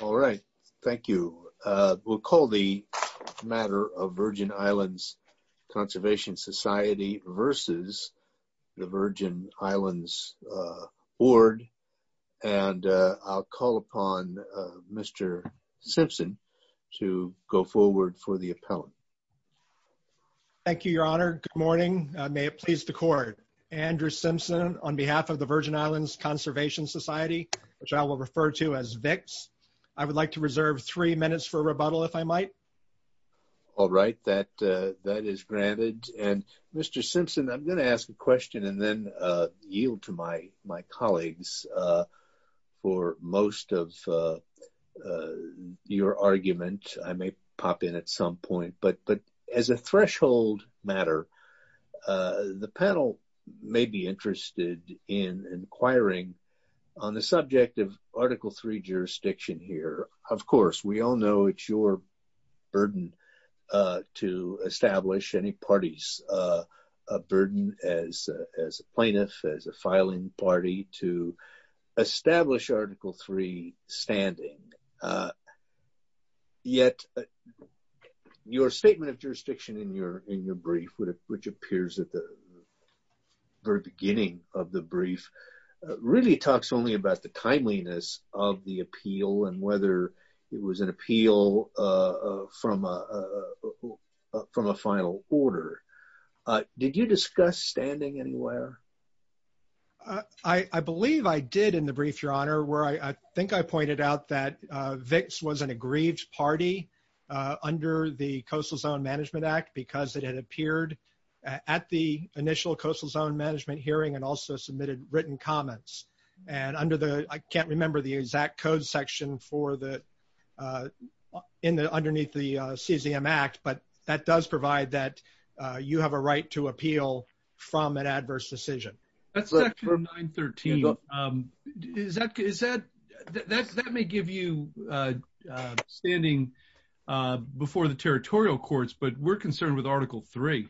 All right, thank you. We'll call the matter of Virgin Islands Conservation Society versus the Virgin Islands Board and I'll call upon Mr. Simpson to go forward for the appellant. Thank you, your honor. Good morning. May it please the court. Andrew Simpson on behalf of I would like to reserve three minutes for rebuttal, if I might. All right, that is granted. And Mr. Simpson, I'm going to ask a question and then yield to my colleagues for most of your argument. I may pop in at some point, but as a threshold matter, the panel may be interested in inquiring on the subject of Article III jurisdiction here. Of course, we all know it's your burden to establish any parties, a burden as a plaintiff, as a filing party to establish Article III standing. Yet your statement of jurisdiction in your brief, which appears at the very beginning of the brief, really talks only about the timeliness of the appeal and whether it was an appeal from a final order. Did you discuss standing anywhere? I believe I did in the brief, your honor, where I think I party under the Coastal Zone Management Act because it had appeared at the initial Coastal Zone Management hearing and also submitted written comments. I can't remember the exact code section underneath the CZM Act, but that does provide that you have a right to appeal from an adverse decision. That's Section 913. That may give you standing before the territorial courts, but we're concerned with Article III.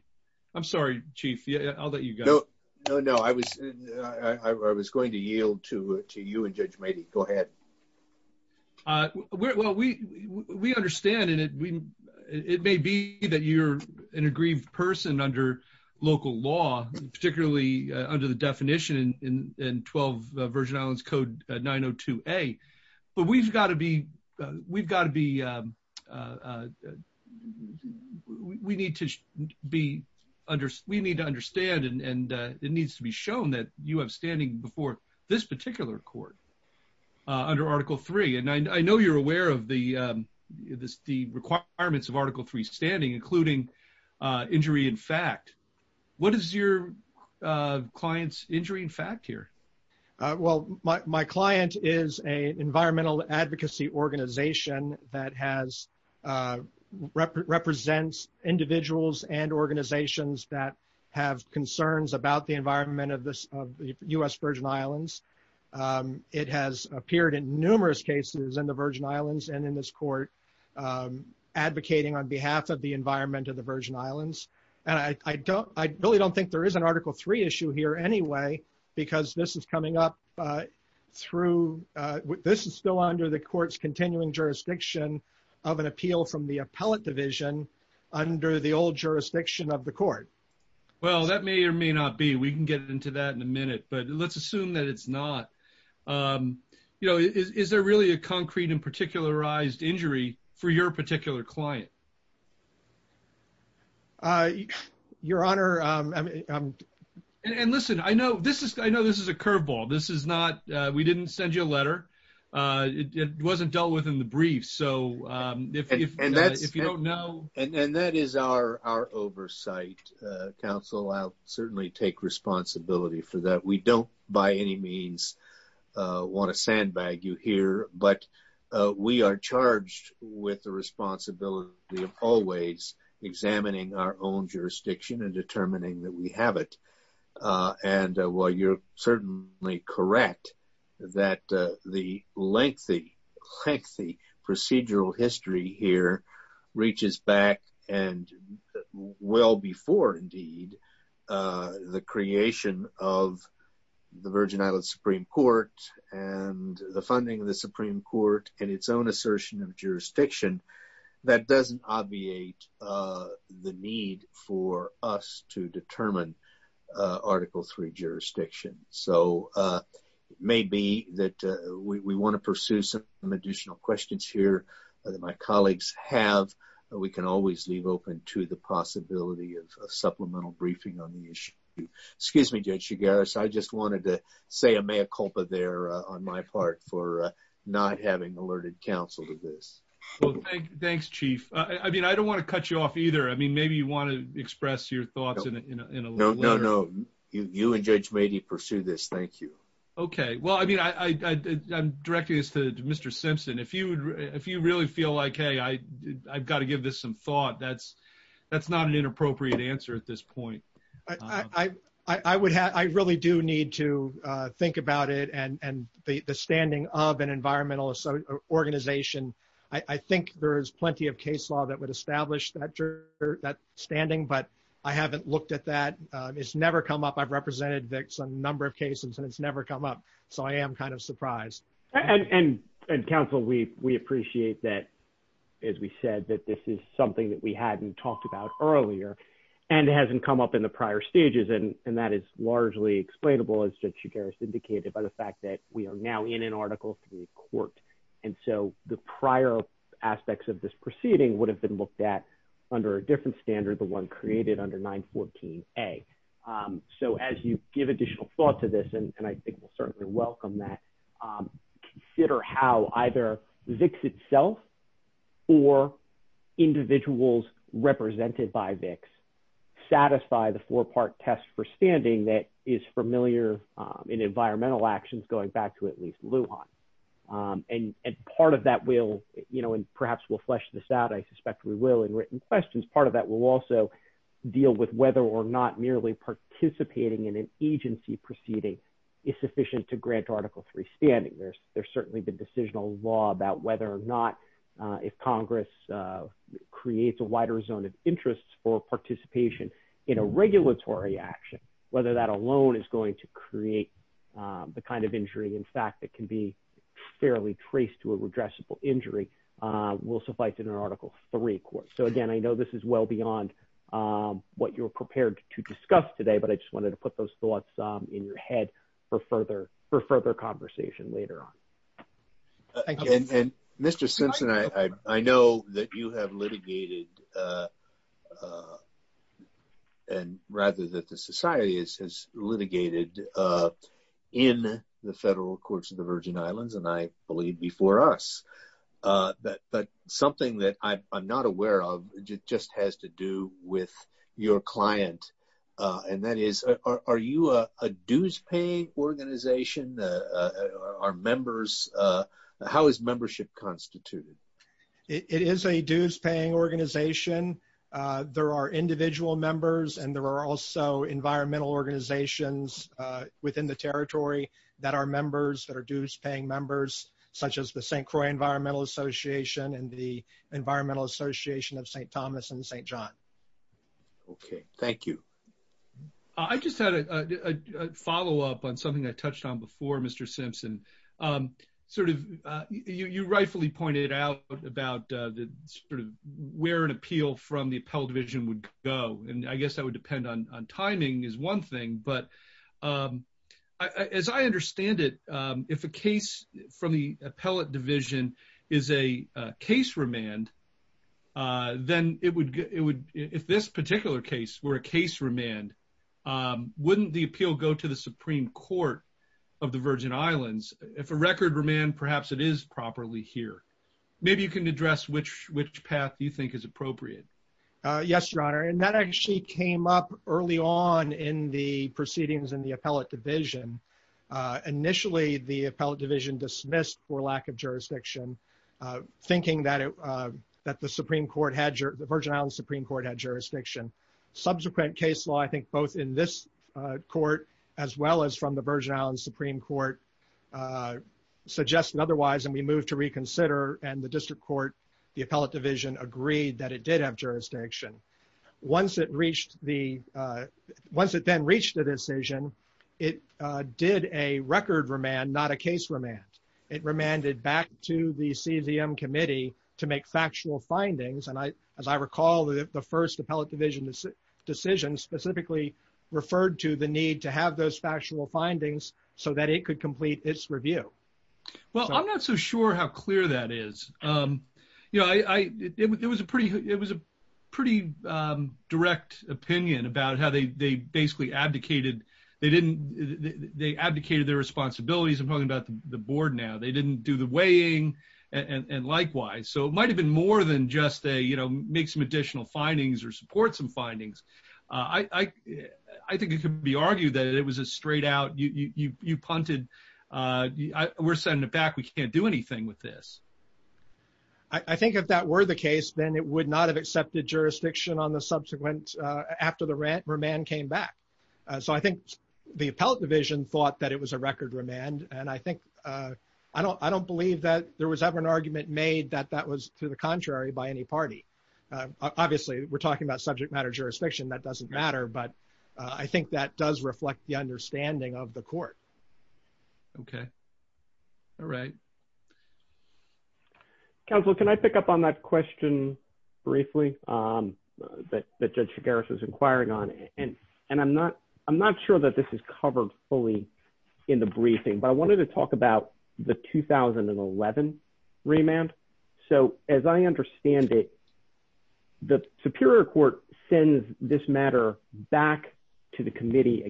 I'm sorry, Chief, I'll let you go. No, I was going to yield to you and Judge Mady. Go ahead. Well, we understand, and it may be that you're an aggrieved person under local law, particularly under the definition in 12 Virgin Islands Code 902A, but we've got to be, we need to be, we need to understand and it needs to be shown that you have standing before this particular court under Article III, and I know you're aware of the requirements of Article III standing, including injury in fact. What is your client's injury in fact here? Well, my client is an environmental advocacy organization that represents individuals and communities in the Virgin Islands. It has appeared in numerous cases in the Virgin Islands and in this court advocating on behalf of the environment of the Virgin Islands, and I really don't think there is an Article III issue here anyway because this is coming up through, this is still under the court's continuing jurisdiction of an appeal from the appellate division under the old jurisdiction of the court. Well, that may or may not be. We can get into that in a minute, but let's assume that it's not. You know, is there really a concrete and particularized injury for your particular client? Your Honor, I'm... And listen, I know this is a curveball. This is not, we didn't send you a letter. It wasn't dealt with in the brief, so if you don't know... And that is our oversight, counsel. I'll certainly take responsibility for that. We don't by any means want to sandbag you here, but we are charged with the responsibility of always examining our own jurisdiction and determining that we have it. And while you're certainly correct that the lengthy, lengthy procedural history here reaches back and well before indeed the creation of the Virgin Islands Supreme Court and the funding of the Supreme Court and its own assertion of jurisdiction, that doesn't obviate the need for us to determine Article III jurisdiction. So, it may be that we want to pursue some additional questions here that my colleagues have, but we can always leave open to the possibility of a supplemental briefing on the issue. Excuse me, Judge Chigares, I just wanted to say a mea culpa there on my part for not having alerted counsel to this. Well, thanks, Chief. I mean, I don't want to cut you off either. I mean, you and Judge Meade pursue this. Thank you. Okay. Well, I mean, I'm directing this to Mr. Simpson. If you really feel like, hey, I've got to give this some thought, that's not an inappropriate answer at this point. I really do need to think about it and the standing of an environmental organization. I think there is plenty of case law that would establish that standing, but I haven't looked at that. It's never come up. I've represented a number of cases and it's never come up. So, I am kind of surprised. And counsel, we appreciate that, as we said, that this is something that we hadn't talked about earlier and hasn't come up in the prior stages. And that is largely explainable, as Judge Chigares indicated, by the fact that we are now in an Article III court. And so, the prior aspects of this proceeding would have been looked at under a different standard, the one created under 914A. So, as you give additional thought to this, and I think we'll certainly welcome that, consider how either VIX itself or individuals represented by VIX satisfy the four-part test for standing that is familiar in environmental actions, going back to at least Lujan. And part of that will, and perhaps we'll flesh this out, I suspect we will in written questions, part of that will also deal with whether or not merely participating in an agency proceeding is sufficient to grant Article III standing. There's certainly the decisional law about whether or not, if Congress creates a wider zone of interest for participation in a regulatory action, whether that alone is going to create the kind of injury, in fact, that can be fairly traced to a redressable injury will suffice in Article III court. So again, I know this is well beyond what you're prepared to discuss today, but I just wanted to put those thoughts in your head for further conversation later on. Thank you. And Mr. Simpson, I know that you have litigated, and rather that the society has litigated in the federal courts of the Virgin Islands, and I believe before us, that something that I'm not aware of just has to do with your client. And that is, are you a dues-paying organization? Are members, how is membership constituted? It is a dues-paying organization. There are individual members, and there are also environmental organizations within the territory that are members, that are dues-paying members, such as the St. Croix Environmental Association and the Environmental Association of St. Thomas and St. John. Okay, thank you. I just had a follow-up on something I touched on before, Mr. Simpson. You rightfully pointed out about where an appeal from the Appellate Division would go, and I guess that would depend on timing is one thing. But as I understand it, if a case from the Appellate Division is a case remand, then it would, if this particular case were a case remand, wouldn't the appeal go to the Supreme Court of the Virgin Islands? If a record remand, perhaps it is properly here. Maybe you can address which path you think is appropriate. Yes, Your Honor, and that actually came up early on in the proceedings in the Appellate Division. Initially, the Appellate Division dismissed for lack of jurisdiction, thinking that the Supreme Court had, the Virgin Islands Supreme Court had jurisdiction. Subsequent case law, I think, both in this court as well as from the Virgin Islands Supreme Court suggested otherwise, and we moved to reconsider, and the District Court, the Appellate Division agreed that it did have jurisdiction. Once it reached the, once it then did a record remand, not a case remand, it remanded back to the CZM Committee to make factual findings, and I, as I recall, the first Appellate Division decision specifically referred to the need to have those factual findings so that it could complete its review. Well, I'm not so sure how clear that is. You know, I, it was a pretty, it was a pretty direct opinion about how they basically abdicated, they didn't, they abdicated their responsibilities. I'm talking about the Board now. They didn't do the weighing, and likewise, so it might have been more than just a, you know, make some additional findings or support some findings. I think it could be argued that it was a straight out, you punted, we're sending it back, we can't do anything with this. I think if that were the case, then it would not have accepted jurisdiction on the subsequent, after the remand came back. So I think the Appellate Division thought that it was a record remand, and I think, I don't, I don't believe that there was ever an argument made that that was to the contrary by any party. Obviously, we're talking about subject matter jurisdiction, that doesn't matter, but I think that does reflect the understanding of the Court. Okay. All right. Counsel, can I pick up on that question briefly, that Judge Figueres is inquiring on, and, and I'm not, I'm not sure that this is covered fully in the briefing, but I wanted to talk about the 2011 remand. So as I understand it, the Superior Court sends this matter back to the Committee,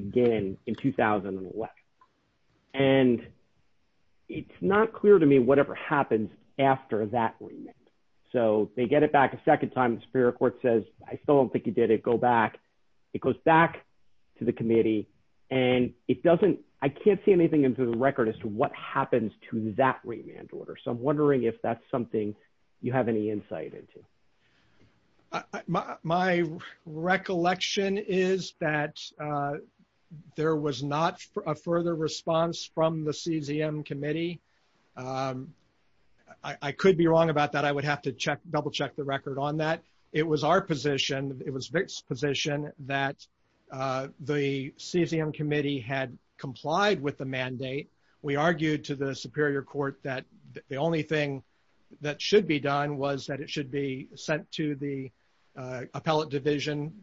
whatever happens after that remand. So they get it back a second time, the Superior Court says, I still don't think you did it, go back. It goes back to the Committee, and it doesn't, I can't see anything in the record as to what happens to that remand order. So I'm wondering if that's something you have any insight into. My recollection is that there was not a further response from the CZM Committee. I could be wrong about that. I would have to check, double-check the record on that. It was our position, it was Vic's position, that the CZM Committee had complied with the mandate. We argued to the Superior Court that the only thing that should be done was that it should be sent to the Appellate Division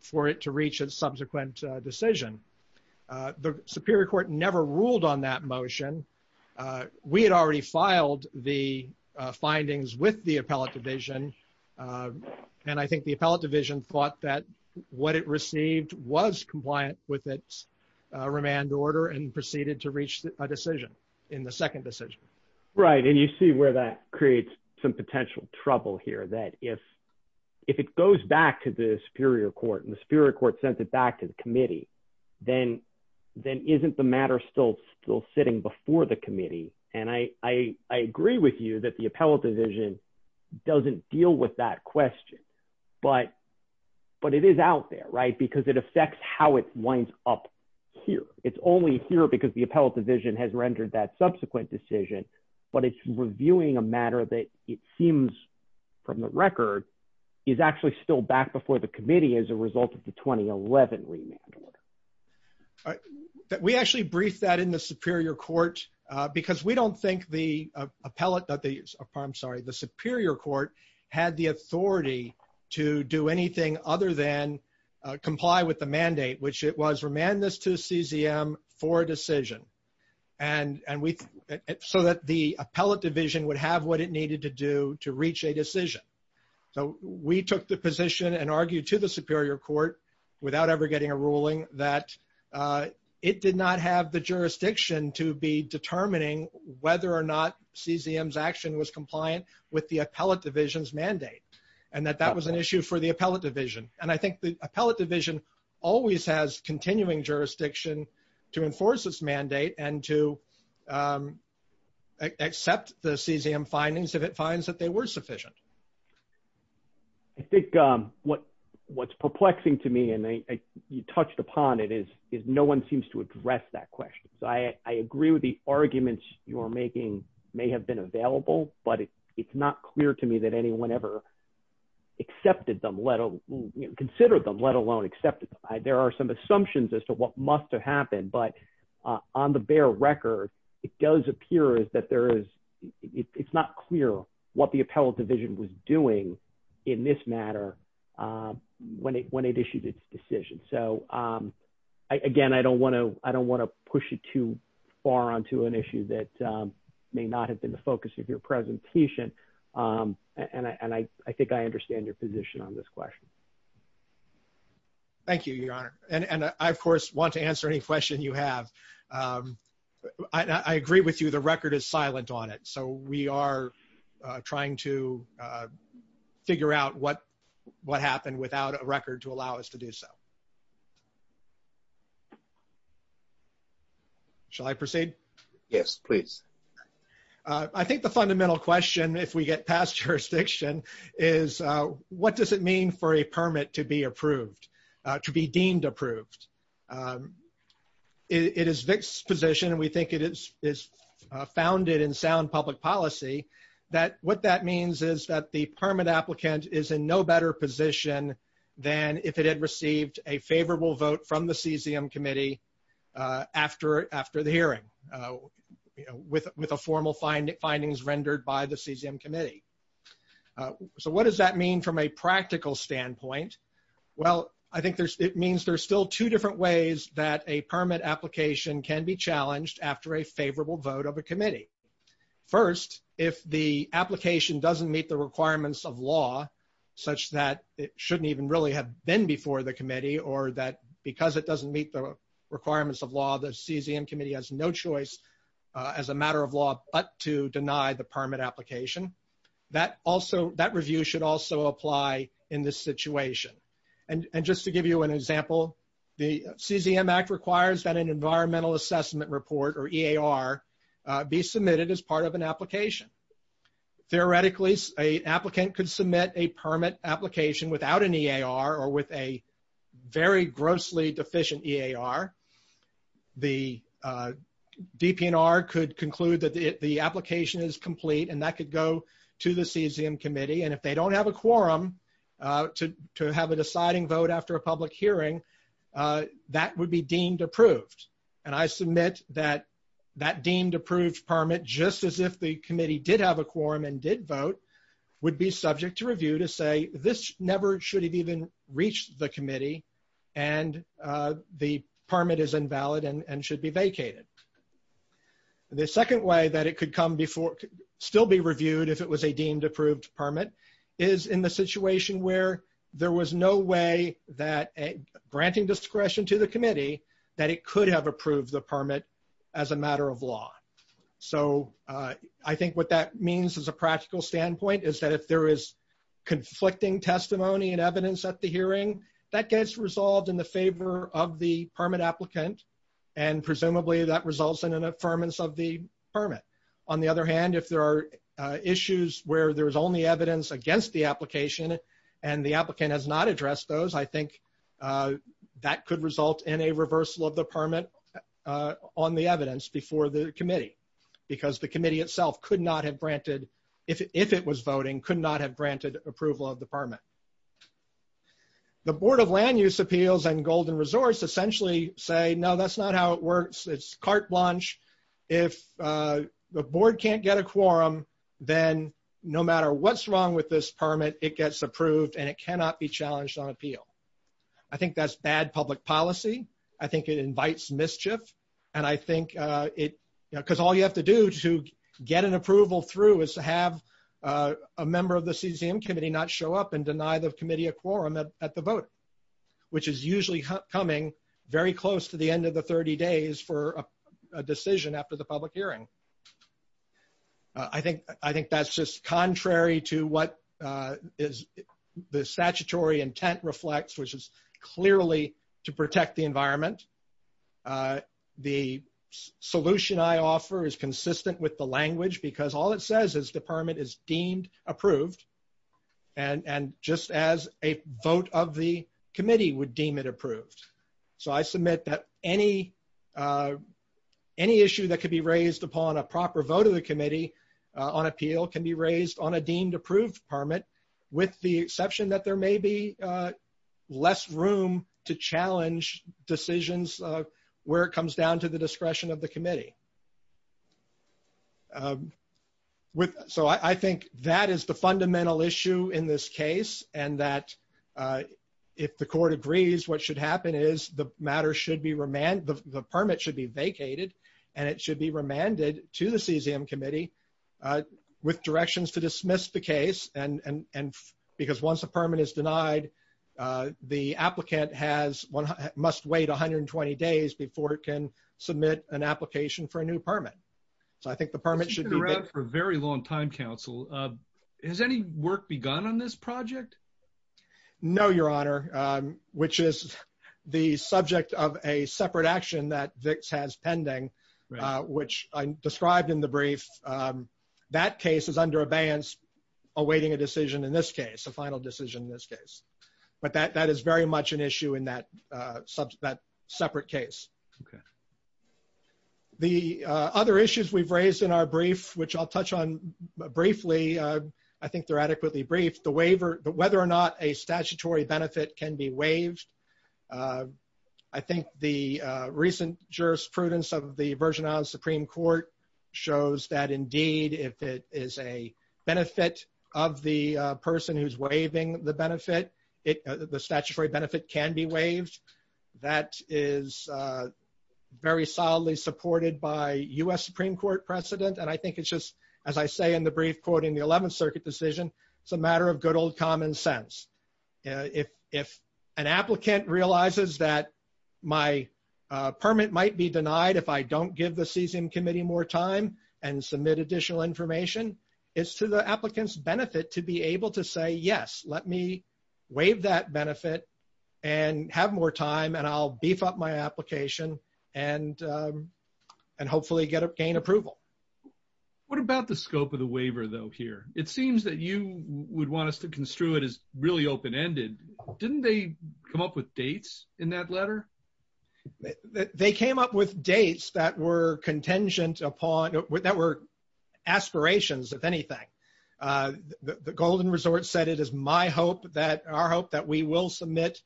for it to reach a subsequent decision. The Superior Court never ruled on that motion. We had already filed the findings with the Appellate Division, and I think the Appellate Division thought that what it received was compliant with its remand order and proceeded to reach a decision in the second decision. Right, and you see where that creates some potential trouble here, that if it goes back to the Superior Court and then isn't the matter still sitting before the Committee, and I agree with you that the Appellate Division doesn't deal with that question, but it is out there, right, because it affects how it winds up here. It's only here because the Appellate Division has rendered that subsequent decision, but it's reviewing a matter that it seems from the record is actually still back before the Committee as a result of the 2011 remand order. All right, we actually briefed that in the Superior Court because we don't think the Appellate, I'm sorry, the Superior Court had the authority to do anything other than comply with the mandate, which it was remand this to CZM for a decision, and so that the Appellate Division would have what it needed to do to reach a decision. So, we took the position and argued to the Superior Court without ever getting a ruling that it did not have the jurisdiction to be determining whether or not CZM's action was compliant with the Appellate Division's mandate, and that that was an issue for the Appellate Division, and I think the Appellate Division always has continuing jurisdiction to enforce this mandate and to accept the CZM findings if it finds that they were sufficient. I think what's perplexing to me, and you touched upon it, is no one seems to address that question. So, I agree with the arguments you're making may have been available, but it's not clear to me that anyone ever accepted them, considered them, let alone accepted them. There are some assumptions as to what must have happened, but on the bare record, it does appear that there is, it's not clear what the Appellate Division was doing in this matter when it issued its decision. So, again, I don't want to push it too far onto an issue that may not have been the focus of your presentation, and I think I understand your position on this question. Thank you, Your Honor, and I, of course, want to answer any question you have. I agree with you, the record is silent on it, so we are trying to figure out what happened without a record to allow us to do so. Shall I proceed? Yes, please. I think the fundamental question, if we get past jurisdiction, is what does it mean for a permit to be approved, to be deemed approved? It is Vic's position, and we think it is founded in sound public policy, that what that means is that the permit applicant is in no better position than if it had received a favorable vote from the CZM committee. So, what does that mean from a practical standpoint? Well, I think it means there's still two different ways that a permit application can be challenged after a favorable vote of a committee. First, if the application doesn't meet the requirements of law, such that it shouldn't even really have been before the committee, or that because it doesn't meet the requirements of law, the CZM committee has no choice as a matter of law but to deny the permit application, that review should also apply in this situation. And just to give you an example, the CZM Act requires that an environmental assessment report, or EAR, be submitted as part of an application. Theoretically, an applicant could submit a permit application without an EAR, or with a very grossly deficient EAR. The DPNR could conclude that the application is complete, and that could go to the CZM committee. And if they don't have a quorum to have a deciding vote after a public hearing, that would be deemed approved. And I submit that that deemed approved permit, just as if the committee did have a quorum and did vote, would be subject to review to say, this never should have even reached the committee, and the permit is invalid and should be vacated. The second way that it could come before, still be reviewed if it was a deemed approved permit, is in the situation where there was no way that, granting discretion to the committee, that it could have approved the permit as a matter of law. So I think what that means as a practical standpoint is that if there is conflicting testimony and evidence at the hearing, that gets resolved in the favor of the permit applicant, and presumably that results in an affirmance of the permit. On the other hand, if there are issues where there's only evidence against the application, and the applicant has not addressed those, I think that could result in a reversal of the permit on the evidence before the committee, because the committee itself could not have granted, if it was voting, could not have granted approval of the permit. The Board of Land Use Appeals and Golden Resorts essentially say, no, that's not how it works. It's carte blanche. If the board can't get a quorum, then no matter what's wrong with this permit, it gets approved and it cannot be challenged on appeal. I think that's bad public policy. I think it invites mischief, and I think it, because all you have to do to get an approval through is to have a member of the CCM committee not show up and deny the committee a quorum at the vote, which is usually coming very close to the end of the 30 days for a decision after the public hearing. I think that's just contrary to what the statutory intent reflects, which is clearly to protect the environment. The solution I offer is consistent with the language, because all it says is the permit is deemed approved, and just as a vote of the committee would deem it approved. So I submit that any issue that could be raised upon a proper vote of the committee on appeal can be raised on a deemed approved permit, with the exception that there may be less room to challenge decisions where it comes down to the discretion of the committee. So I think that is the fundamental issue in this case, and that if the court agrees, what should happen is the matter should be remanded, the permit should be vacated, and it should be remanded to the CCM committee with directions to dismiss the case, and because once a permit is denied, the applicant must wait 120 days before it can submit an application for long-term counsel. Has any work begun on this project? No, Your Honor, which is the subject of a separate action that VIX has pending, which I described in the brief. That case is under abeyance, awaiting a decision in this case, a final decision in this case, but that is very much an issue in that separate case. The other issues we've raised in our brief, which I'll touch on briefly, I think they're adequately brief, the waiver, whether or not a statutory benefit can be waived. I think the recent jurisprudence of the Virgin Islands Supreme Court shows that indeed, if it is a benefit of the person who's waiving the benefit, the statutory benefit can be waived. That is very solidly supported by U.S. Supreme Court precedent, and I think it's just, as I say in the brief, quoting the 11th Circuit decision, it's a matter of good old common sense. If an applicant realizes that my permit might be denied if I don't give the CCM committee more time and submit additional information, it's to the applicant's benefit to be able to say, yes, let me waive that benefit and have more time, and I'll gain approval. What about the scope of the waiver, though, here? It seems that you would want us to construe it as really open-ended. Didn't they come up with dates in that letter? They came up with dates that were contingent upon, that were aspirations, if anything. The Golden Resort said it is my hope that, our hope that we will submit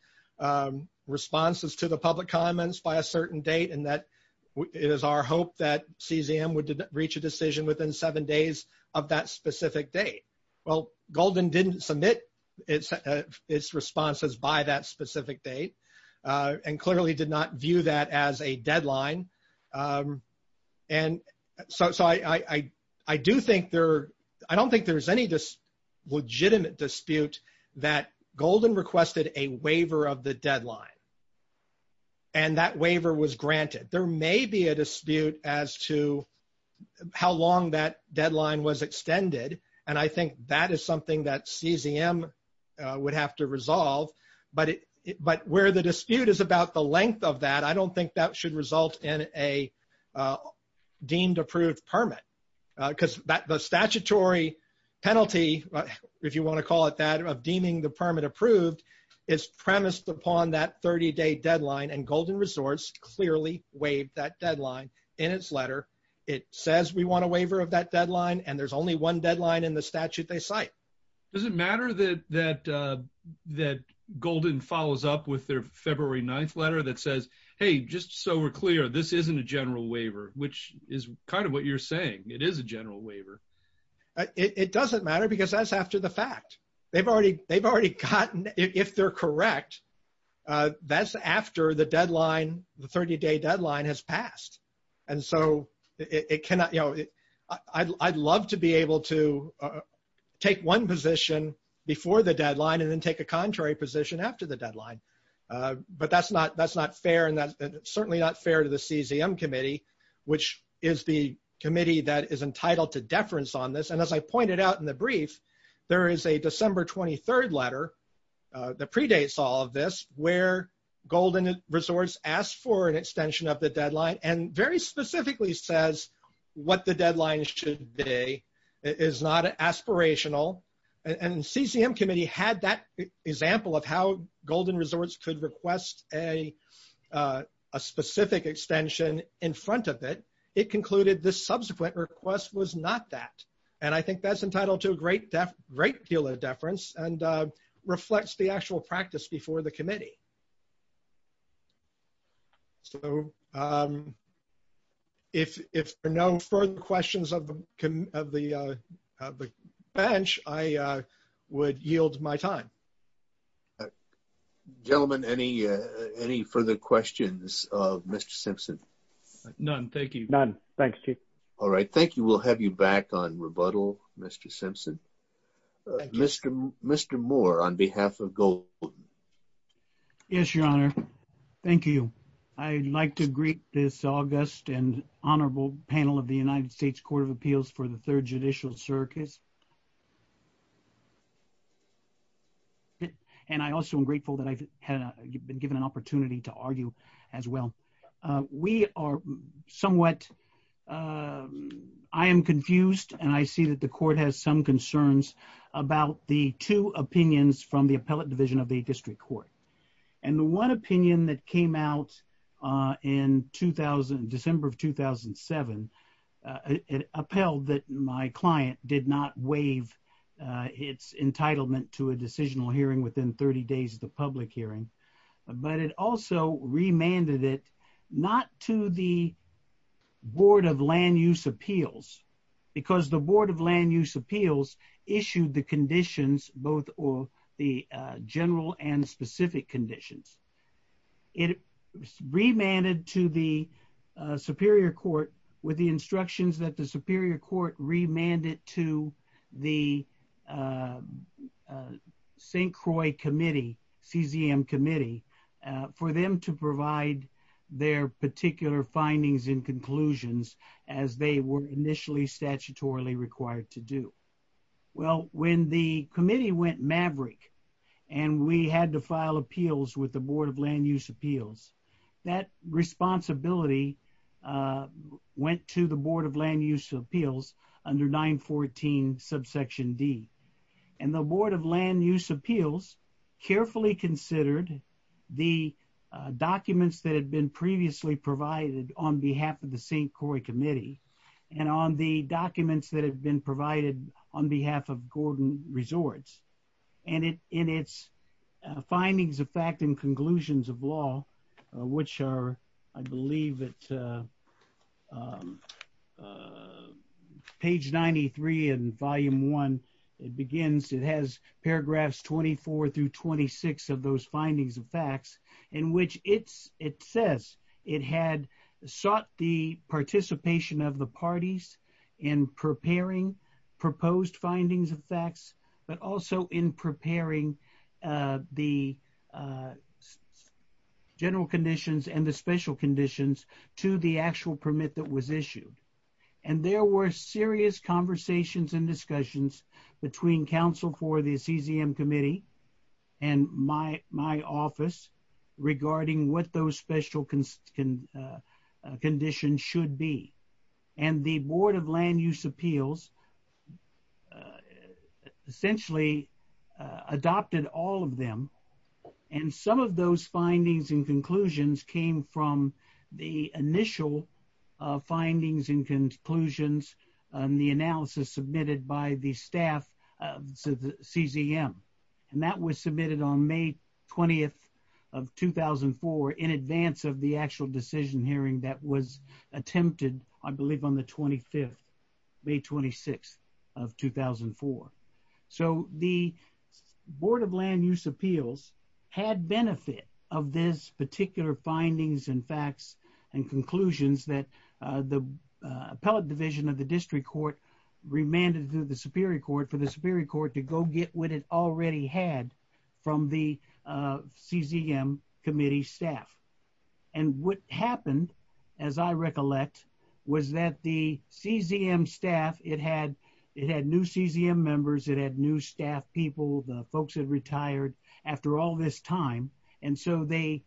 responses to the public comments by a certain date and that it is our hope that CCM would reach a decision within seven days of that specific date. Well, Golden didn't submit its responses by that specific date and clearly did not view that as a deadline. And so, I do think there, I don't think there's any legitimate dispute that Golden requested a waiver of the deadline. And that waiver was granted. There may be a dispute as to how long that deadline was extended, and I think that is something that CCM would have to resolve. But where the dispute is about the length of that, I don't think that should result in a deemed approved permit. Because the statutory penalty, if you want to call it that, of deeming the permit approved is premised upon that 30-day deadline. And Golden Resorts clearly waived that deadline in its letter. It says we want a waiver of that deadline and there's only one deadline in the statute they cite. Does it matter that Golden follows up with their February 9th letter that says, hey, just so we're clear, this isn't a general waiver, which is kind of what you're saying. It is a general waiver. It doesn't matter because that's after the fact. They've already, they've corrected it. If they're correct, that's after the deadline, the 30-day deadline has passed. And so it cannot, you know, I'd love to be able to take one position before the deadline and then take a contrary position after the deadline. But that's not fair and that's certainly not fair to the CCM Committee, which is the committee that is entitled to deference on this. And as I predates all of this, where Golden Resorts asked for an extension of the deadline and very specifically says what the deadline should be is not aspirational. And CCM Committee had that example of how Golden Resorts could request a specific extension in front of it. It concluded the subsequent request was not that. And I think that's entitled to a great deal of deference and reflects the actual practice before the committee. So if there are no further questions of the bench, I would yield my time. Gentlemen, any further questions of Mr. Simpson? None. Thank you. None. Thanks, Chief. All right. Thank you. We'll have you back on rebuttal, Mr. Simpson. Mr. Moore, on behalf of Golden. Yes, Your Honor. Thank you. I'd like to greet this august and honorable panel of the United States Court of Appeals for the Third Judicial Circus. And I also am grateful that I've been given an opportunity to argue as well. We are some concerns about the two opinions from the appellate division of the district court. And the one opinion that came out in 2000, December of 2007, it appealed that my client did not waive its entitlement to a decisional hearing within 30 days of the public hearing. But it also remanded it not to the board of land use appeals, because the board of land use appeals issued the conditions both or the general and specific conditions. It remanded to the superior court with the instructions that the superior court remanded to the St. Croix committee, CZM committee, for them to provide their particular findings and conclusions as they were initially statutorily required to do. Well, when the committee went maverick and we had to file appeals with the board of land use appeals, that responsibility went to the board of land use appeals under 914 subsection D. And the board of land use appeals carefully considered the documents that had been previously provided on behalf of the St. Croix committee and on the documents that have been provided on behalf of Gordon Resorts. And in its findings of fact and conclusions of law, which are, I believe, at page 93 in volume one, it begins, it has paragraphs 24 through 26 of those findings of facts in which it says it had sought the participation of the parties in preparing proposed findings of facts, but also in preparing the general conditions and the special conditions to the actual permit that was issued. And there were serious conversations and discussions between counsel for the CZM committee and my office regarding what those special conditions should be. And the board of land appeals essentially adopted all of them. And some of those findings and conclusions came from the initial findings and conclusions and the analysis submitted by the staff of the CZM. And that was submitted on May 20th of 2004 in advance of the actual decision hearing that was May 26th of 2004. So the board of land use appeals had benefit of this particular findings and facts and conclusions that the appellate division of the district court remanded to the superior court for the superior court to go get what it already had from the CZM committee staff. And what happened as I recollect was that the CZM staff, it had new CZM members, it had new staff people, the folks had retired after all this time. And so they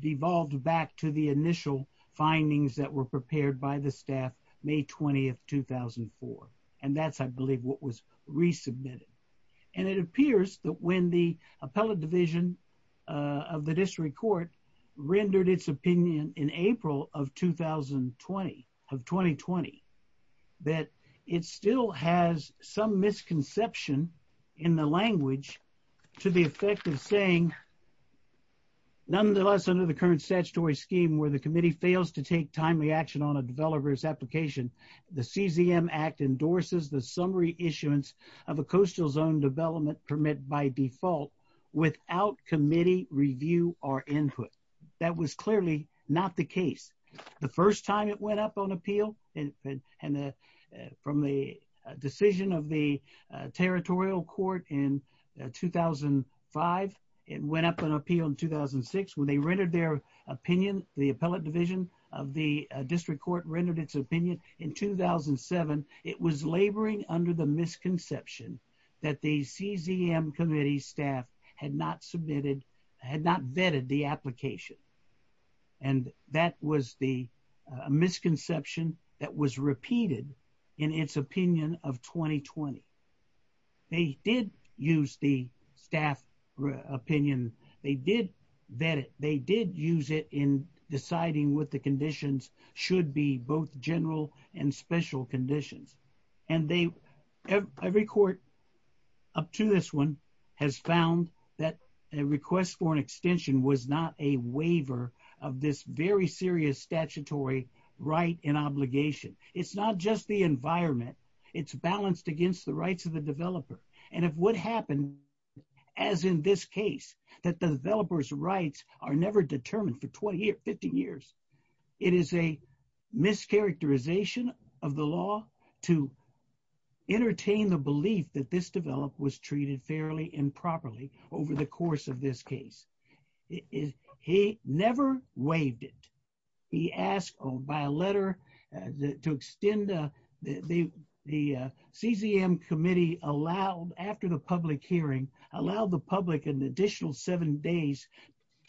devolved back to the initial findings that were prepared by the staff May 20th, 2004. And that's, I believe what was resubmitted. And it appears that when the appellate division of the district court rendered its opinion in April of 2020, that it still has some misconception in the language to the effect of saying, nonetheless, under the current statutory scheme where the committee fails to take timely action on a developer's application, the CZM act endorses the summary issuance of a coastal zone development permit by default without committee review or input. That was clearly not the case. The first time it went up on appeal and from the decision of the territorial court in 2005, it went up on appeal in 2006, when they rendered their opinion, the appellate division of the district court rendered its opinion. And in 2007, it was laboring under the misconception that the CZM committee staff had not submitted, had not vetted the application. And that was the misconception that was repeated in its opinion of 2020. They did use the staff opinion. They did vet it. They did use it in deciding what the conditions should be, both general and special conditions. And every court up to this one has found that a request for an extension was not a waiver of this very serious statutory right and obligation. It's not just the environment. It's balanced against the rights of the developer. And if what happened, as in this case, that the developer's rights are never It is a mischaracterization of the law to entertain the belief that this developer was treated fairly and properly over the course of this case. He never waived it. He asked by a letter to extend the CZM committee allowed, after the public hearing, allowed the public an additional seven days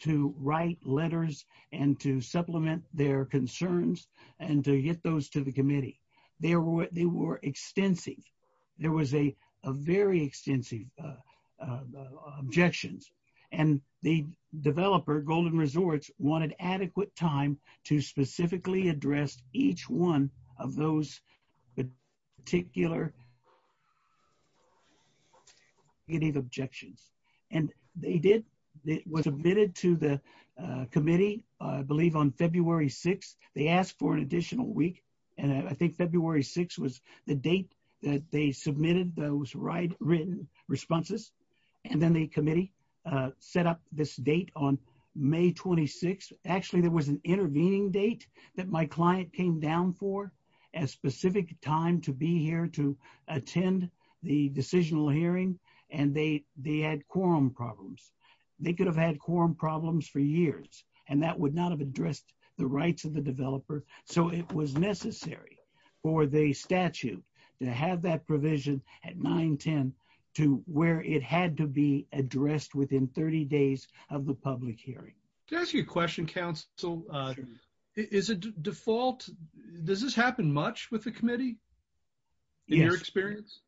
to write letters and to supplement their concerns and to get those to the committee. They were extensive. There was a very extensive objections. And the developer, Golden Resorts, wanted adequate time to specifically address each one of those particular objections. And they did. It was admitted to the committee, I believe, on February 6th. They asked for an additional week. And I think February 6th was the date that they submitted those written responses. And then the committee set up this date on May 26th. Actually, there was an intervening date that my client came down for, a specific time to be here to attend the decisional hearing. And they had quorum problems. They could have had quorum problems for years. And that would not have addressed the rights of the developer. So it was necessary for the statute to have that provision at 9-10 to where it had to be addressed within 30 days of the public hearing. To ask you a question, counsel, is it default? Does this happen much with the committee, in your experience?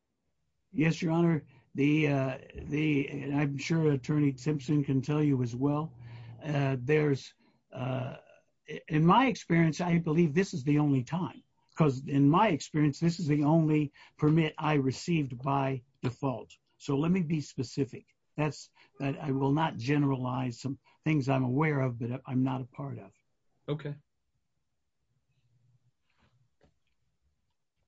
Yes, Your Honor. I'm sure Attorney Simpson can tell you as well. In my experience, I believe this is the only time. Because in my experience, this is the only permit I received by default. So let me be specific. I will not generalize some things that I'm aware of that I'm not a part of. Okay.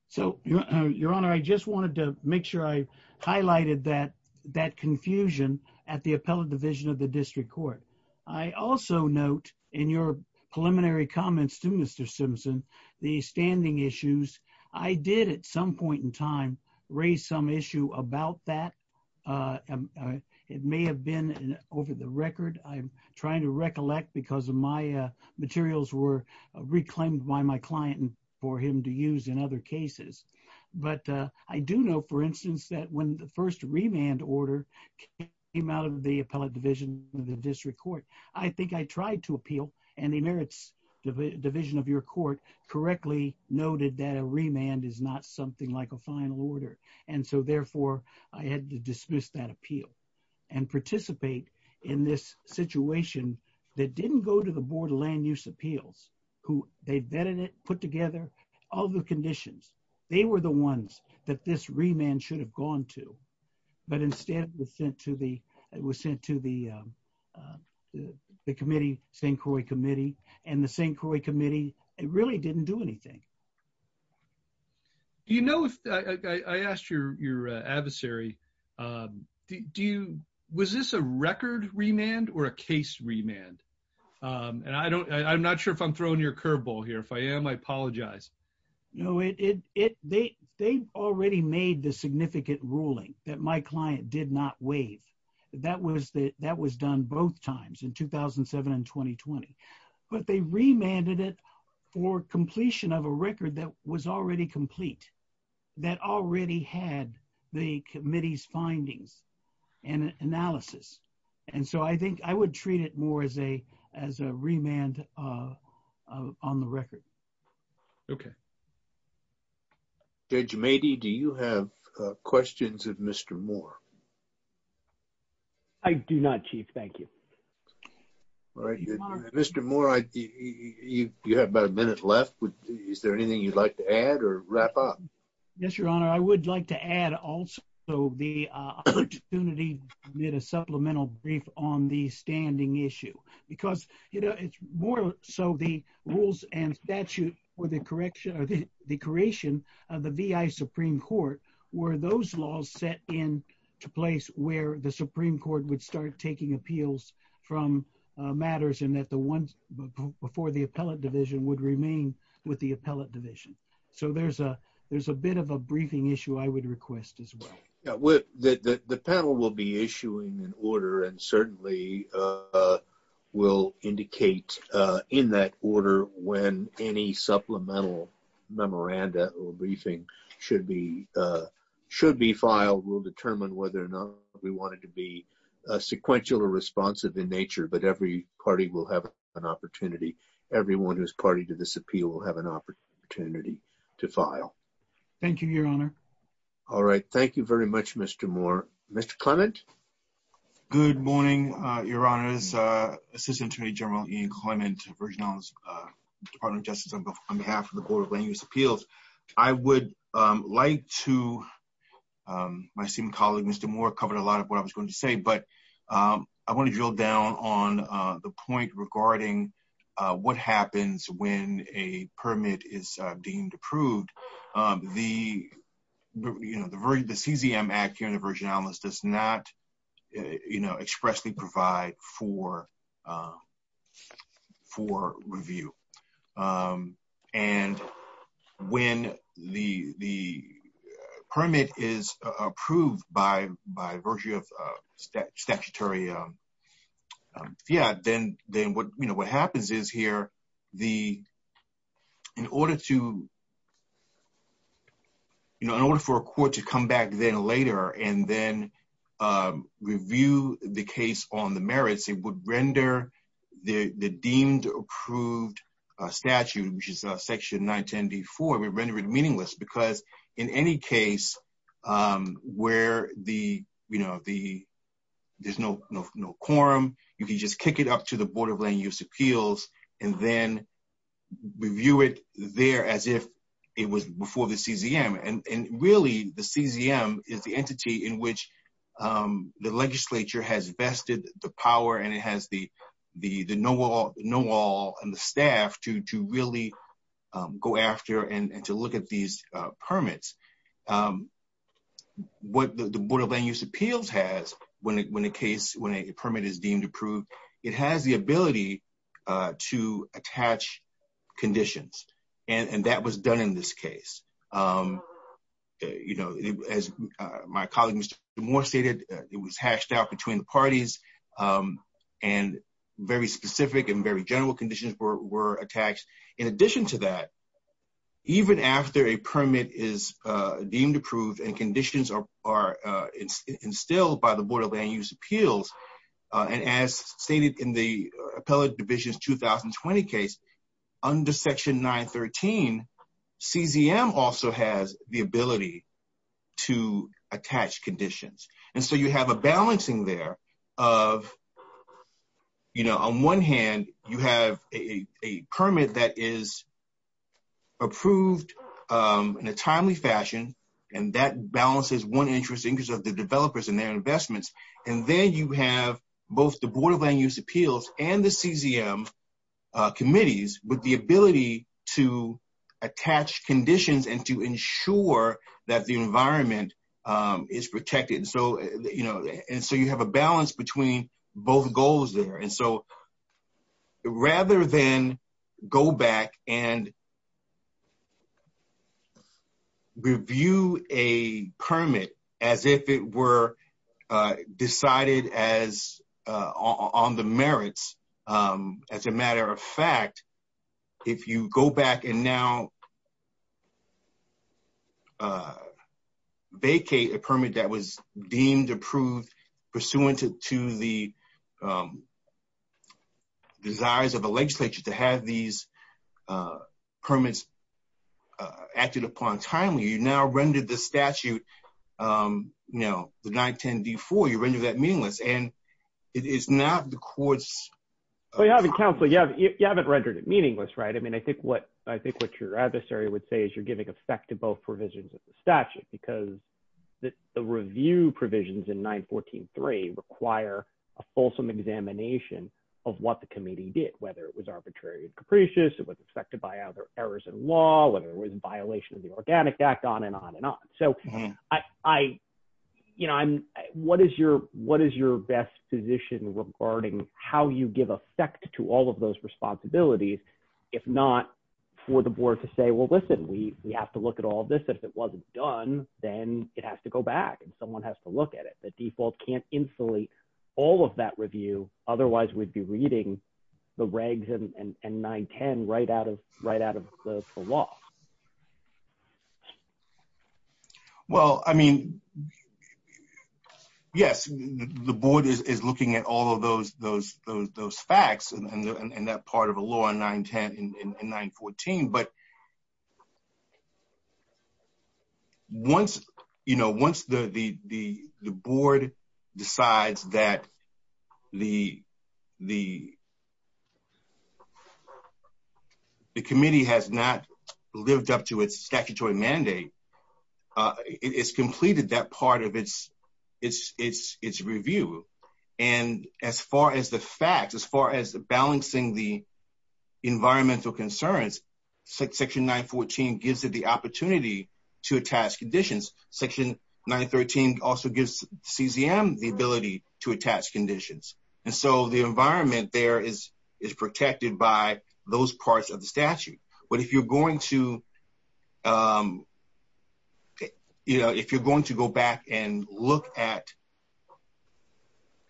So, Your Honor, I just wanted to make sure I highlighted that confusion at the Appellate Division of the District Court. I also note in your preliminary comments to Mr. Simpson, the standing issues. I did at some point in time raise some issue about that. It may have been over the record. I'm trying to recollect because of my materials were reclaimed by my client for him to use in other cases. But I do know, for instance, that when the first remand order came out of the Appellate Division of the District Court, I think I tried to appeal and the merits division of your court correctly noted that a remand is not something like a final order. And so, therefore, I had to dismiss that appeal and participate in this situation that didn't go to the Board of Land Use Appeals, who they vetted it, put together all the conditions. They were the ones that this remand should have gone to. But instead, it was sent to the committee, St. Croix Committee, and the St. Croix Committee really didn't do anything. You know, I asked your adversary, was this a record remand or a case remand? And I'm not sure if I'm throwing your curveball here. If I am, I apologize. No, they already made the significant ruling that my client did not waive. That was done both times in 2007 and 2020. But they remanded it for completion of a record that was already complete, that already had the committee's findings and analysis. And so, I think I would treat it more as a remand on the record. Okay. Judge Mady, do you have questions of Mr. Moore? I do not, Chief. Thank you. All right. Mr. Moore, you have about a minute left. Is there anything you'd like to add or wrap up? Yes, Your Honor. I would like to add also the opportunity to make a supplemental brief on the standing issue. Because, you know, it's more so the rules and statute for the creation of the Supreme Court were those laws set in to place where the Supreme Court would start taking appeals from matters and that the ones before the appellate division would remain with the appellate division. So, there's a bit of a briefing issue I would request as well. Yeah. The panel will be issuing an order and certainly will indicate in that order when any supplemental memoranda or briefing should be filed. We'll determine whether or not we want it to be sequential or responsive in nature. But every party will have an opportunity. Everyone who's party to this appeal will have an opportunity to file. Thank you, Your Honor. All right. Thank you very much, Mr. Moore. Mr. Clement? Good morning, Your Honors. Assistant Attorney General Ian Clement, Virgin Islands Department of Justice on behalf of the Board of Land Use Appeals. I would like to, my esteemed colleague Mr. Moore covered a lot of what I was going to say, but I want to drill down on the point regarding what happens when a permit is deemed approved. The CZM Act here in the Virgin Islands does not expressly provide for review. And when the permit is approved by virtue of statutory, yeah, then what happens is here, the, in order to, you know, in order for a court to come back then later and then review the case on the merits, it would render the deemed approved statute, which is Section 910d4, we render it meaningless because in any case where the, you know, the, there's no quorum, you can just kick it up to the Board of Land Use Appeals and then review it there as if it was before the CZM. And really the CZM is the entity in which the legislature has vested the power and it has the know-all and the staff to really go after and to look at these permits. What the permit is deemed approved, it has the ability to attach conditions and that was done in this case. You know, as my colleague Mr. Moore stated, it was hashed out between the parties and very specific and very general conditions were attached. In addition to that, even after a permit is deemed approved and conditions are instilled by the Board of Land Use Appeals, and as stated in the Appellate Division's 2020 case, under Section 913, CZM also has the ability to attach conditions. And so you have a balancing there of, you know, on one hand you have a permit that is approved in a timely fashion and that balances one interesting because of the developers and their investments. And then you have both the Board of Land Use Appeals and the CZM committees with the ability to attach conditions and to ensure that the environment is protected. So, you know, and so you have a balance between both goals there. And so rather than go back and review a permit as if it were decided as on the merits, as a matter of fact, if you go back and now vacate a permit that was deemed approved pursuant to the desires of the legislature to have these permits acted upon timely, you now rendered the statute, you know, the 910d4, you rendered that meaningless. And it is not the court's... Well, you haven't rendered it meaningless, right? I mean, I think what your adversary would say is you're giving effect to both provisions of the statute because the review provisions in 914.3 require a fulsome examination of what the committee did, whether it was arbitrary and capricious, it was affected by other errors in law, whether it was a violation of the Organic Act, on and on and on. So, you know, what is your best position regarding how you give effect to all of those responsibilities, if not for the board to say, well, listen, we have to look at all this. If it wasn't done, then it has to go back and someone has to look at it. The default can't insulate all of that review. Otherwise, we'd be reading the regs and 910 right out of the law. Well, I mean, yes, the board is looking at all of those facts and that part of a law in 910 and 914. But once, you know, once the board decides that the committee has not lived up to its statutory mandate, it's completed that part of its review. And as far as the facts, as far as balancing the section 914 gives it the opportunity to attach conditions, section 913 also gives CZM the ability to attach conditions. And so the environment there is protected by those parts of the statute. But if you're going to, you know, if you're going to go back and look at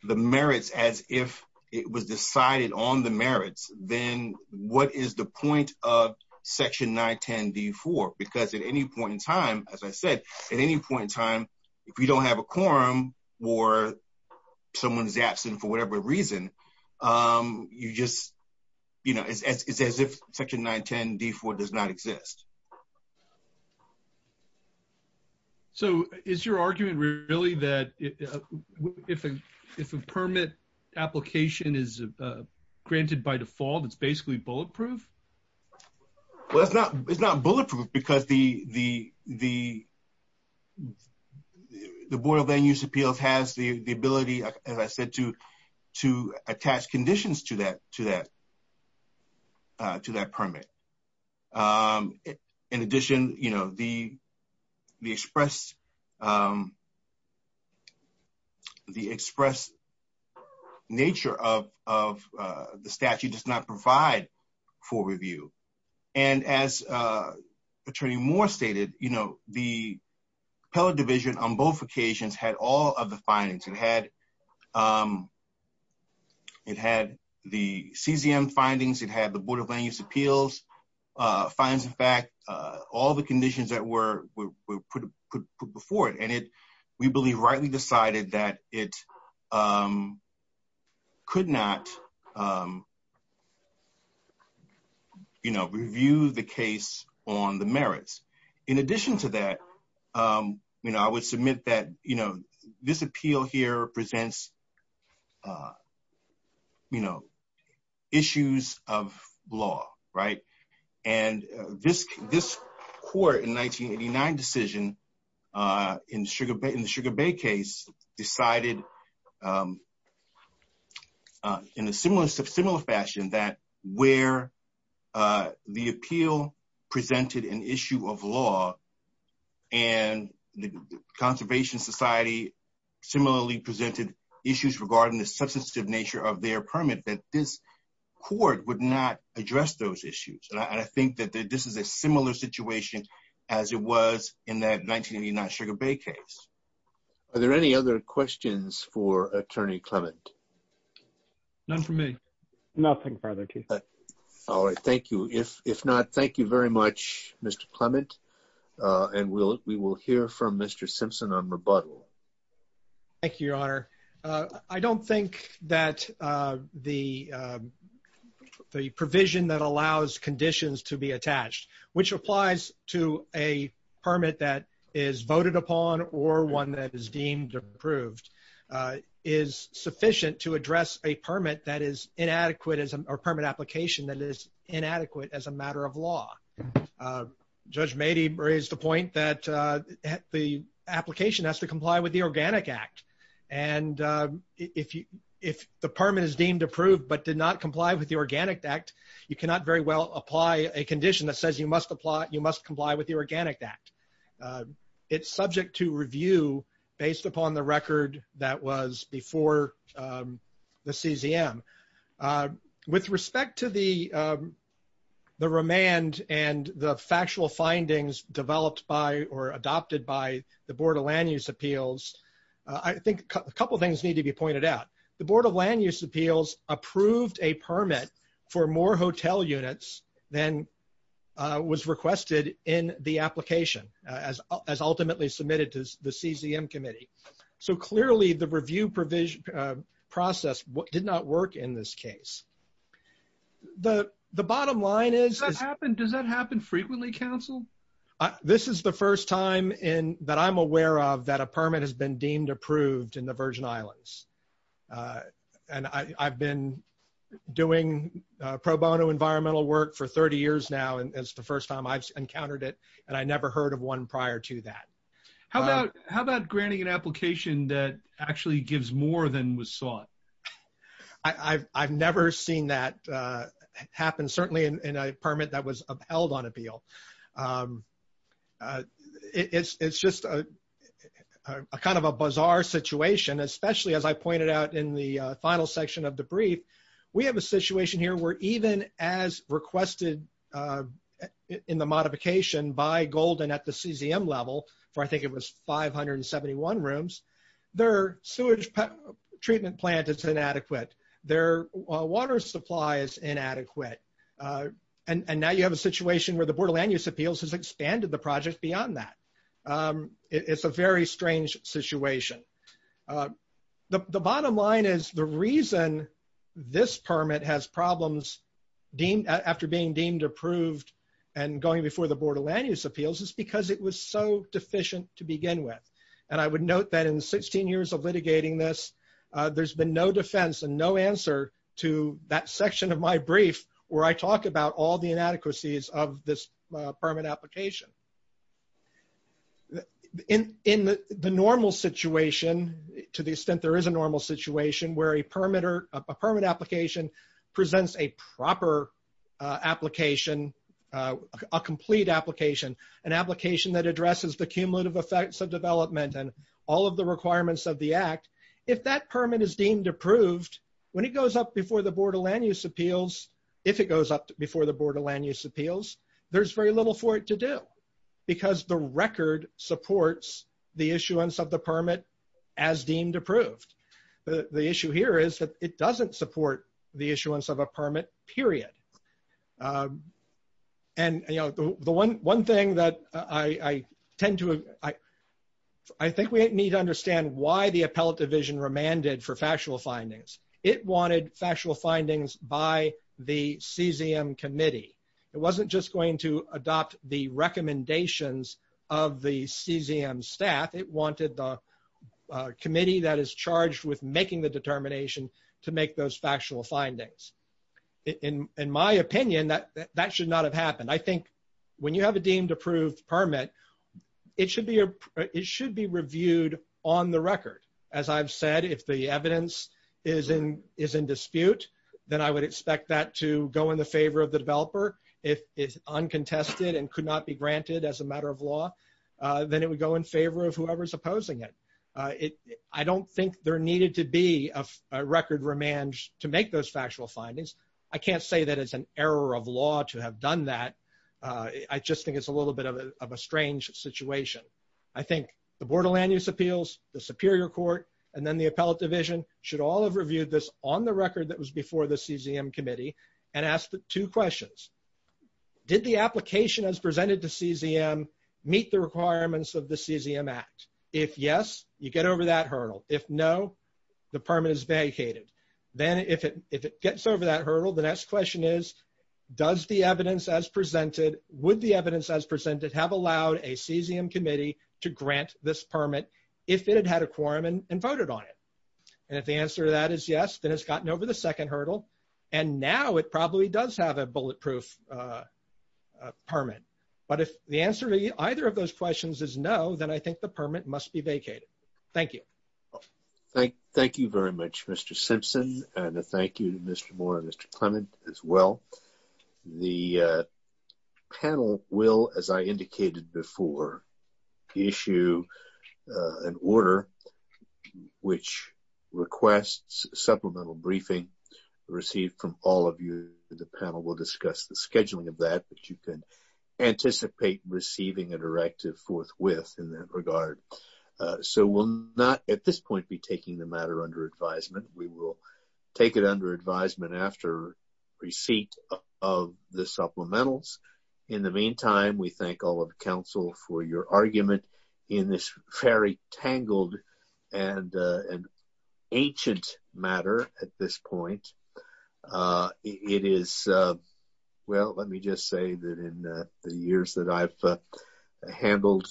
the merits as if it was decided on the merits, then what is the point of section 910d4? Because at any point in time, as I said, at any point in time, if you don't have a quorum or someone's absent for whatever reason, you just, you know, it's as if section 910d4 does not exist. So is your argument really that if a permit application is granted by default, it's basically bulletproof? Well, it's not bulletproof because the Board of Land Use Appeals has the ability, as I said, to attach conditions to that permit. In addition, you know, the express nature of the statute does not provide full review. And as Attorney Moore stated, you know, the appellate division on both occasions had all of the findings. It had the CZM findings. It had the Board of Land Use Appeals findings. In fact, all the conditions that were put before it. And it, we believe, rightly decided that it could not, you know, review the case on the merits. In addition to that, you know, I would submit that, you know, this appeal here presents, you know, issues of law, right? And this court in 1989 decision, in the Sugar Bay case, decided in a similar fashion that where the appeal presented an issue of law and the Conservation Society similarly presented issues regarding the substantive nature of their permit, that this would not address those issues. And I think that this is a similar situation as it was in that 1989 Sugar Bay case. Are there any other questions for Attorney Clement? None for me. Nothing further. All right. Thank you. If not, thank you very much, Mr. Clement. And we will hear from Mr. Simpson on rebuttal. Thank you, Your Honor. I don't think that the provision that allows conditions to be attached, which applies to a permit that is voted upon or one that is deemed approved, is sufficient to address a permit that is inadequate or permit application that is inadequate as a matter of law. Judge Mady raised the point that the application has to comply with the Organic Act. And if the permit is deemed approved but did not comply with the Organic Act, you cannot very well apply a condition that says you must comply with the Organic Act. It's subject to review based upon the record that was before the CZM. With respect to the remand and the factual findings developed by or adopted by the Board of Land Use Appeals, I think a couple things need to be pointed out. The Board of Land Use Appeals approved a permit for more hotel units than was requested in the application as ultimately submitted to the CZM Committee. So clearly, the review process did not work in this case. The bottom line is... Does that happen frequently, Counsel? This is the first time that I'm aware of that a permit has been deemed approved in the Virgin Islands. And I've been doing pro bono environmental work for 30 years now, and it's the first time I've encountered it, and I never heard of one prior to that. How about granting an application that actually gives more than was sought? I've never seen that happen, certainly in a permit that was upheld on appeal. It's just a kind of a bizarre situation, especially as I pointed out in the final section of the brief. We have a situation here where even as requested in the modification by Golden at the CZM level, for I think it was 571 rooms, their sewage treatment plant is inadequate. Their water supply is inadequate. And now you have a situation where the Board of Land Use Appeals has expanded the project beyond that. It's a very strange situation. The bottom line is the reason this permit has problems after being deemed approved and going before the Board of Land Use Appeals is because it was so deficient to begin with. And I would note that in 16 years of litigating this, there's been no defense and no answer to that section of my brief where I talk about all the inadequacies of this permit application. In the normal situation, to the permit application presents a proper application, a complete application, an application that addresses the cumulative effects of development and all of the requirements of the act. If that permit is deemed approved, when it goes up before the Board of Land Use Appeals, if it goes up before the Board of Land Use Appeals, there's very little for it to do because the record supports the issuance of the permit as deemed approved. The issue here is that it doesn't support the issuance of a permit, period. And the one thing that I tend to, I think we need to understand why the appellate division remanded for factual findings. It wanted factual findings by the recommendations of the CZM staff. It wanted the committee that is charged with making the determination to make those factual findings. In my opinion, that should not have happened. I think when you have a deemed approved permit, it should be reviewed on the record. As I've said, if the evidence is in dispute, then I would expect that to go in the favor of the developer. If it's uncontested and could not be granted as a matter of law, then it would go in favor of whoever's opposing it. I don't think there needed to be a record remand to make those factual findings. I can't say that it's an error of law to have done that. I just think it's a little bit of a strange situation. I think the Board of Land Use Appeals, the Superior Court, and then the appellate division should all have reviewed this on the record that was before the did the application as presented to CZM meet the requirements of the CZM Act? If yes, you get over that hurdle. If no, the permit is vacated. Then if it gets over that hurdle, the next question is, would the evidence as presented have allowed a CZM committee to grant this permit if it had had a quorum and voted on it? If the answer to that is yes, it's gotten over the second hurdle, and now it probably does have a bulletproof permit. But if the answer to either of those questions is no, then I think the permit must be vacated. Thank you. Thank you very much, Mr. Simpson, and thank you to Mr. Moore and Mr. Clement as well. The panel will, as I indicated before, issue an order which requests supplemental briefing received from all of you. The panel will discuss the scheduling of that, but you can anticipate receiving a directive forthwith in that regard. So, we'll not at this point be taking the matter under advisement. We will take it under advisement after receipt of the supplementals. In the meantime, we thank all of the council for your argument in this very tangled and ancient matter at this point. Well, let me just say that in the years that I've handled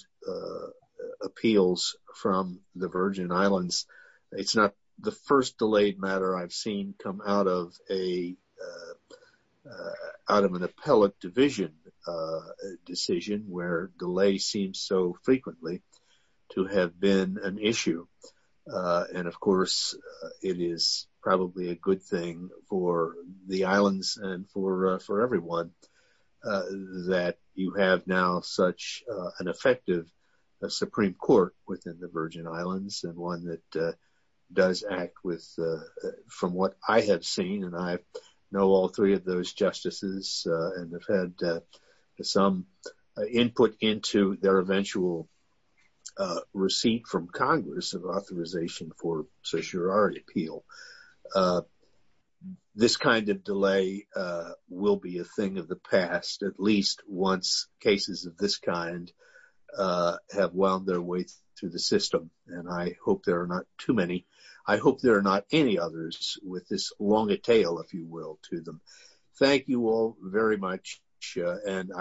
appeals from the Virgin Islands, it's not the first delayed matter I've seen come out of an appellate division decision where delay seems so frequently to have been an issue. Of course, it is probably a good thing for the islands and for everyone that you have now such an effective Supreme Court within the Virgin Islands and one that does act from what I have seen. I know all three of those justices and have had some input into their eventual receipt from Congress of authorization for certiorari appeal. This kind of delay will be a thing of the past at least once cases of this kind have wound their way through the system. And I hope there are not too many. I hope there are any others with this long a tail, if you will, to them. Thank you all very much.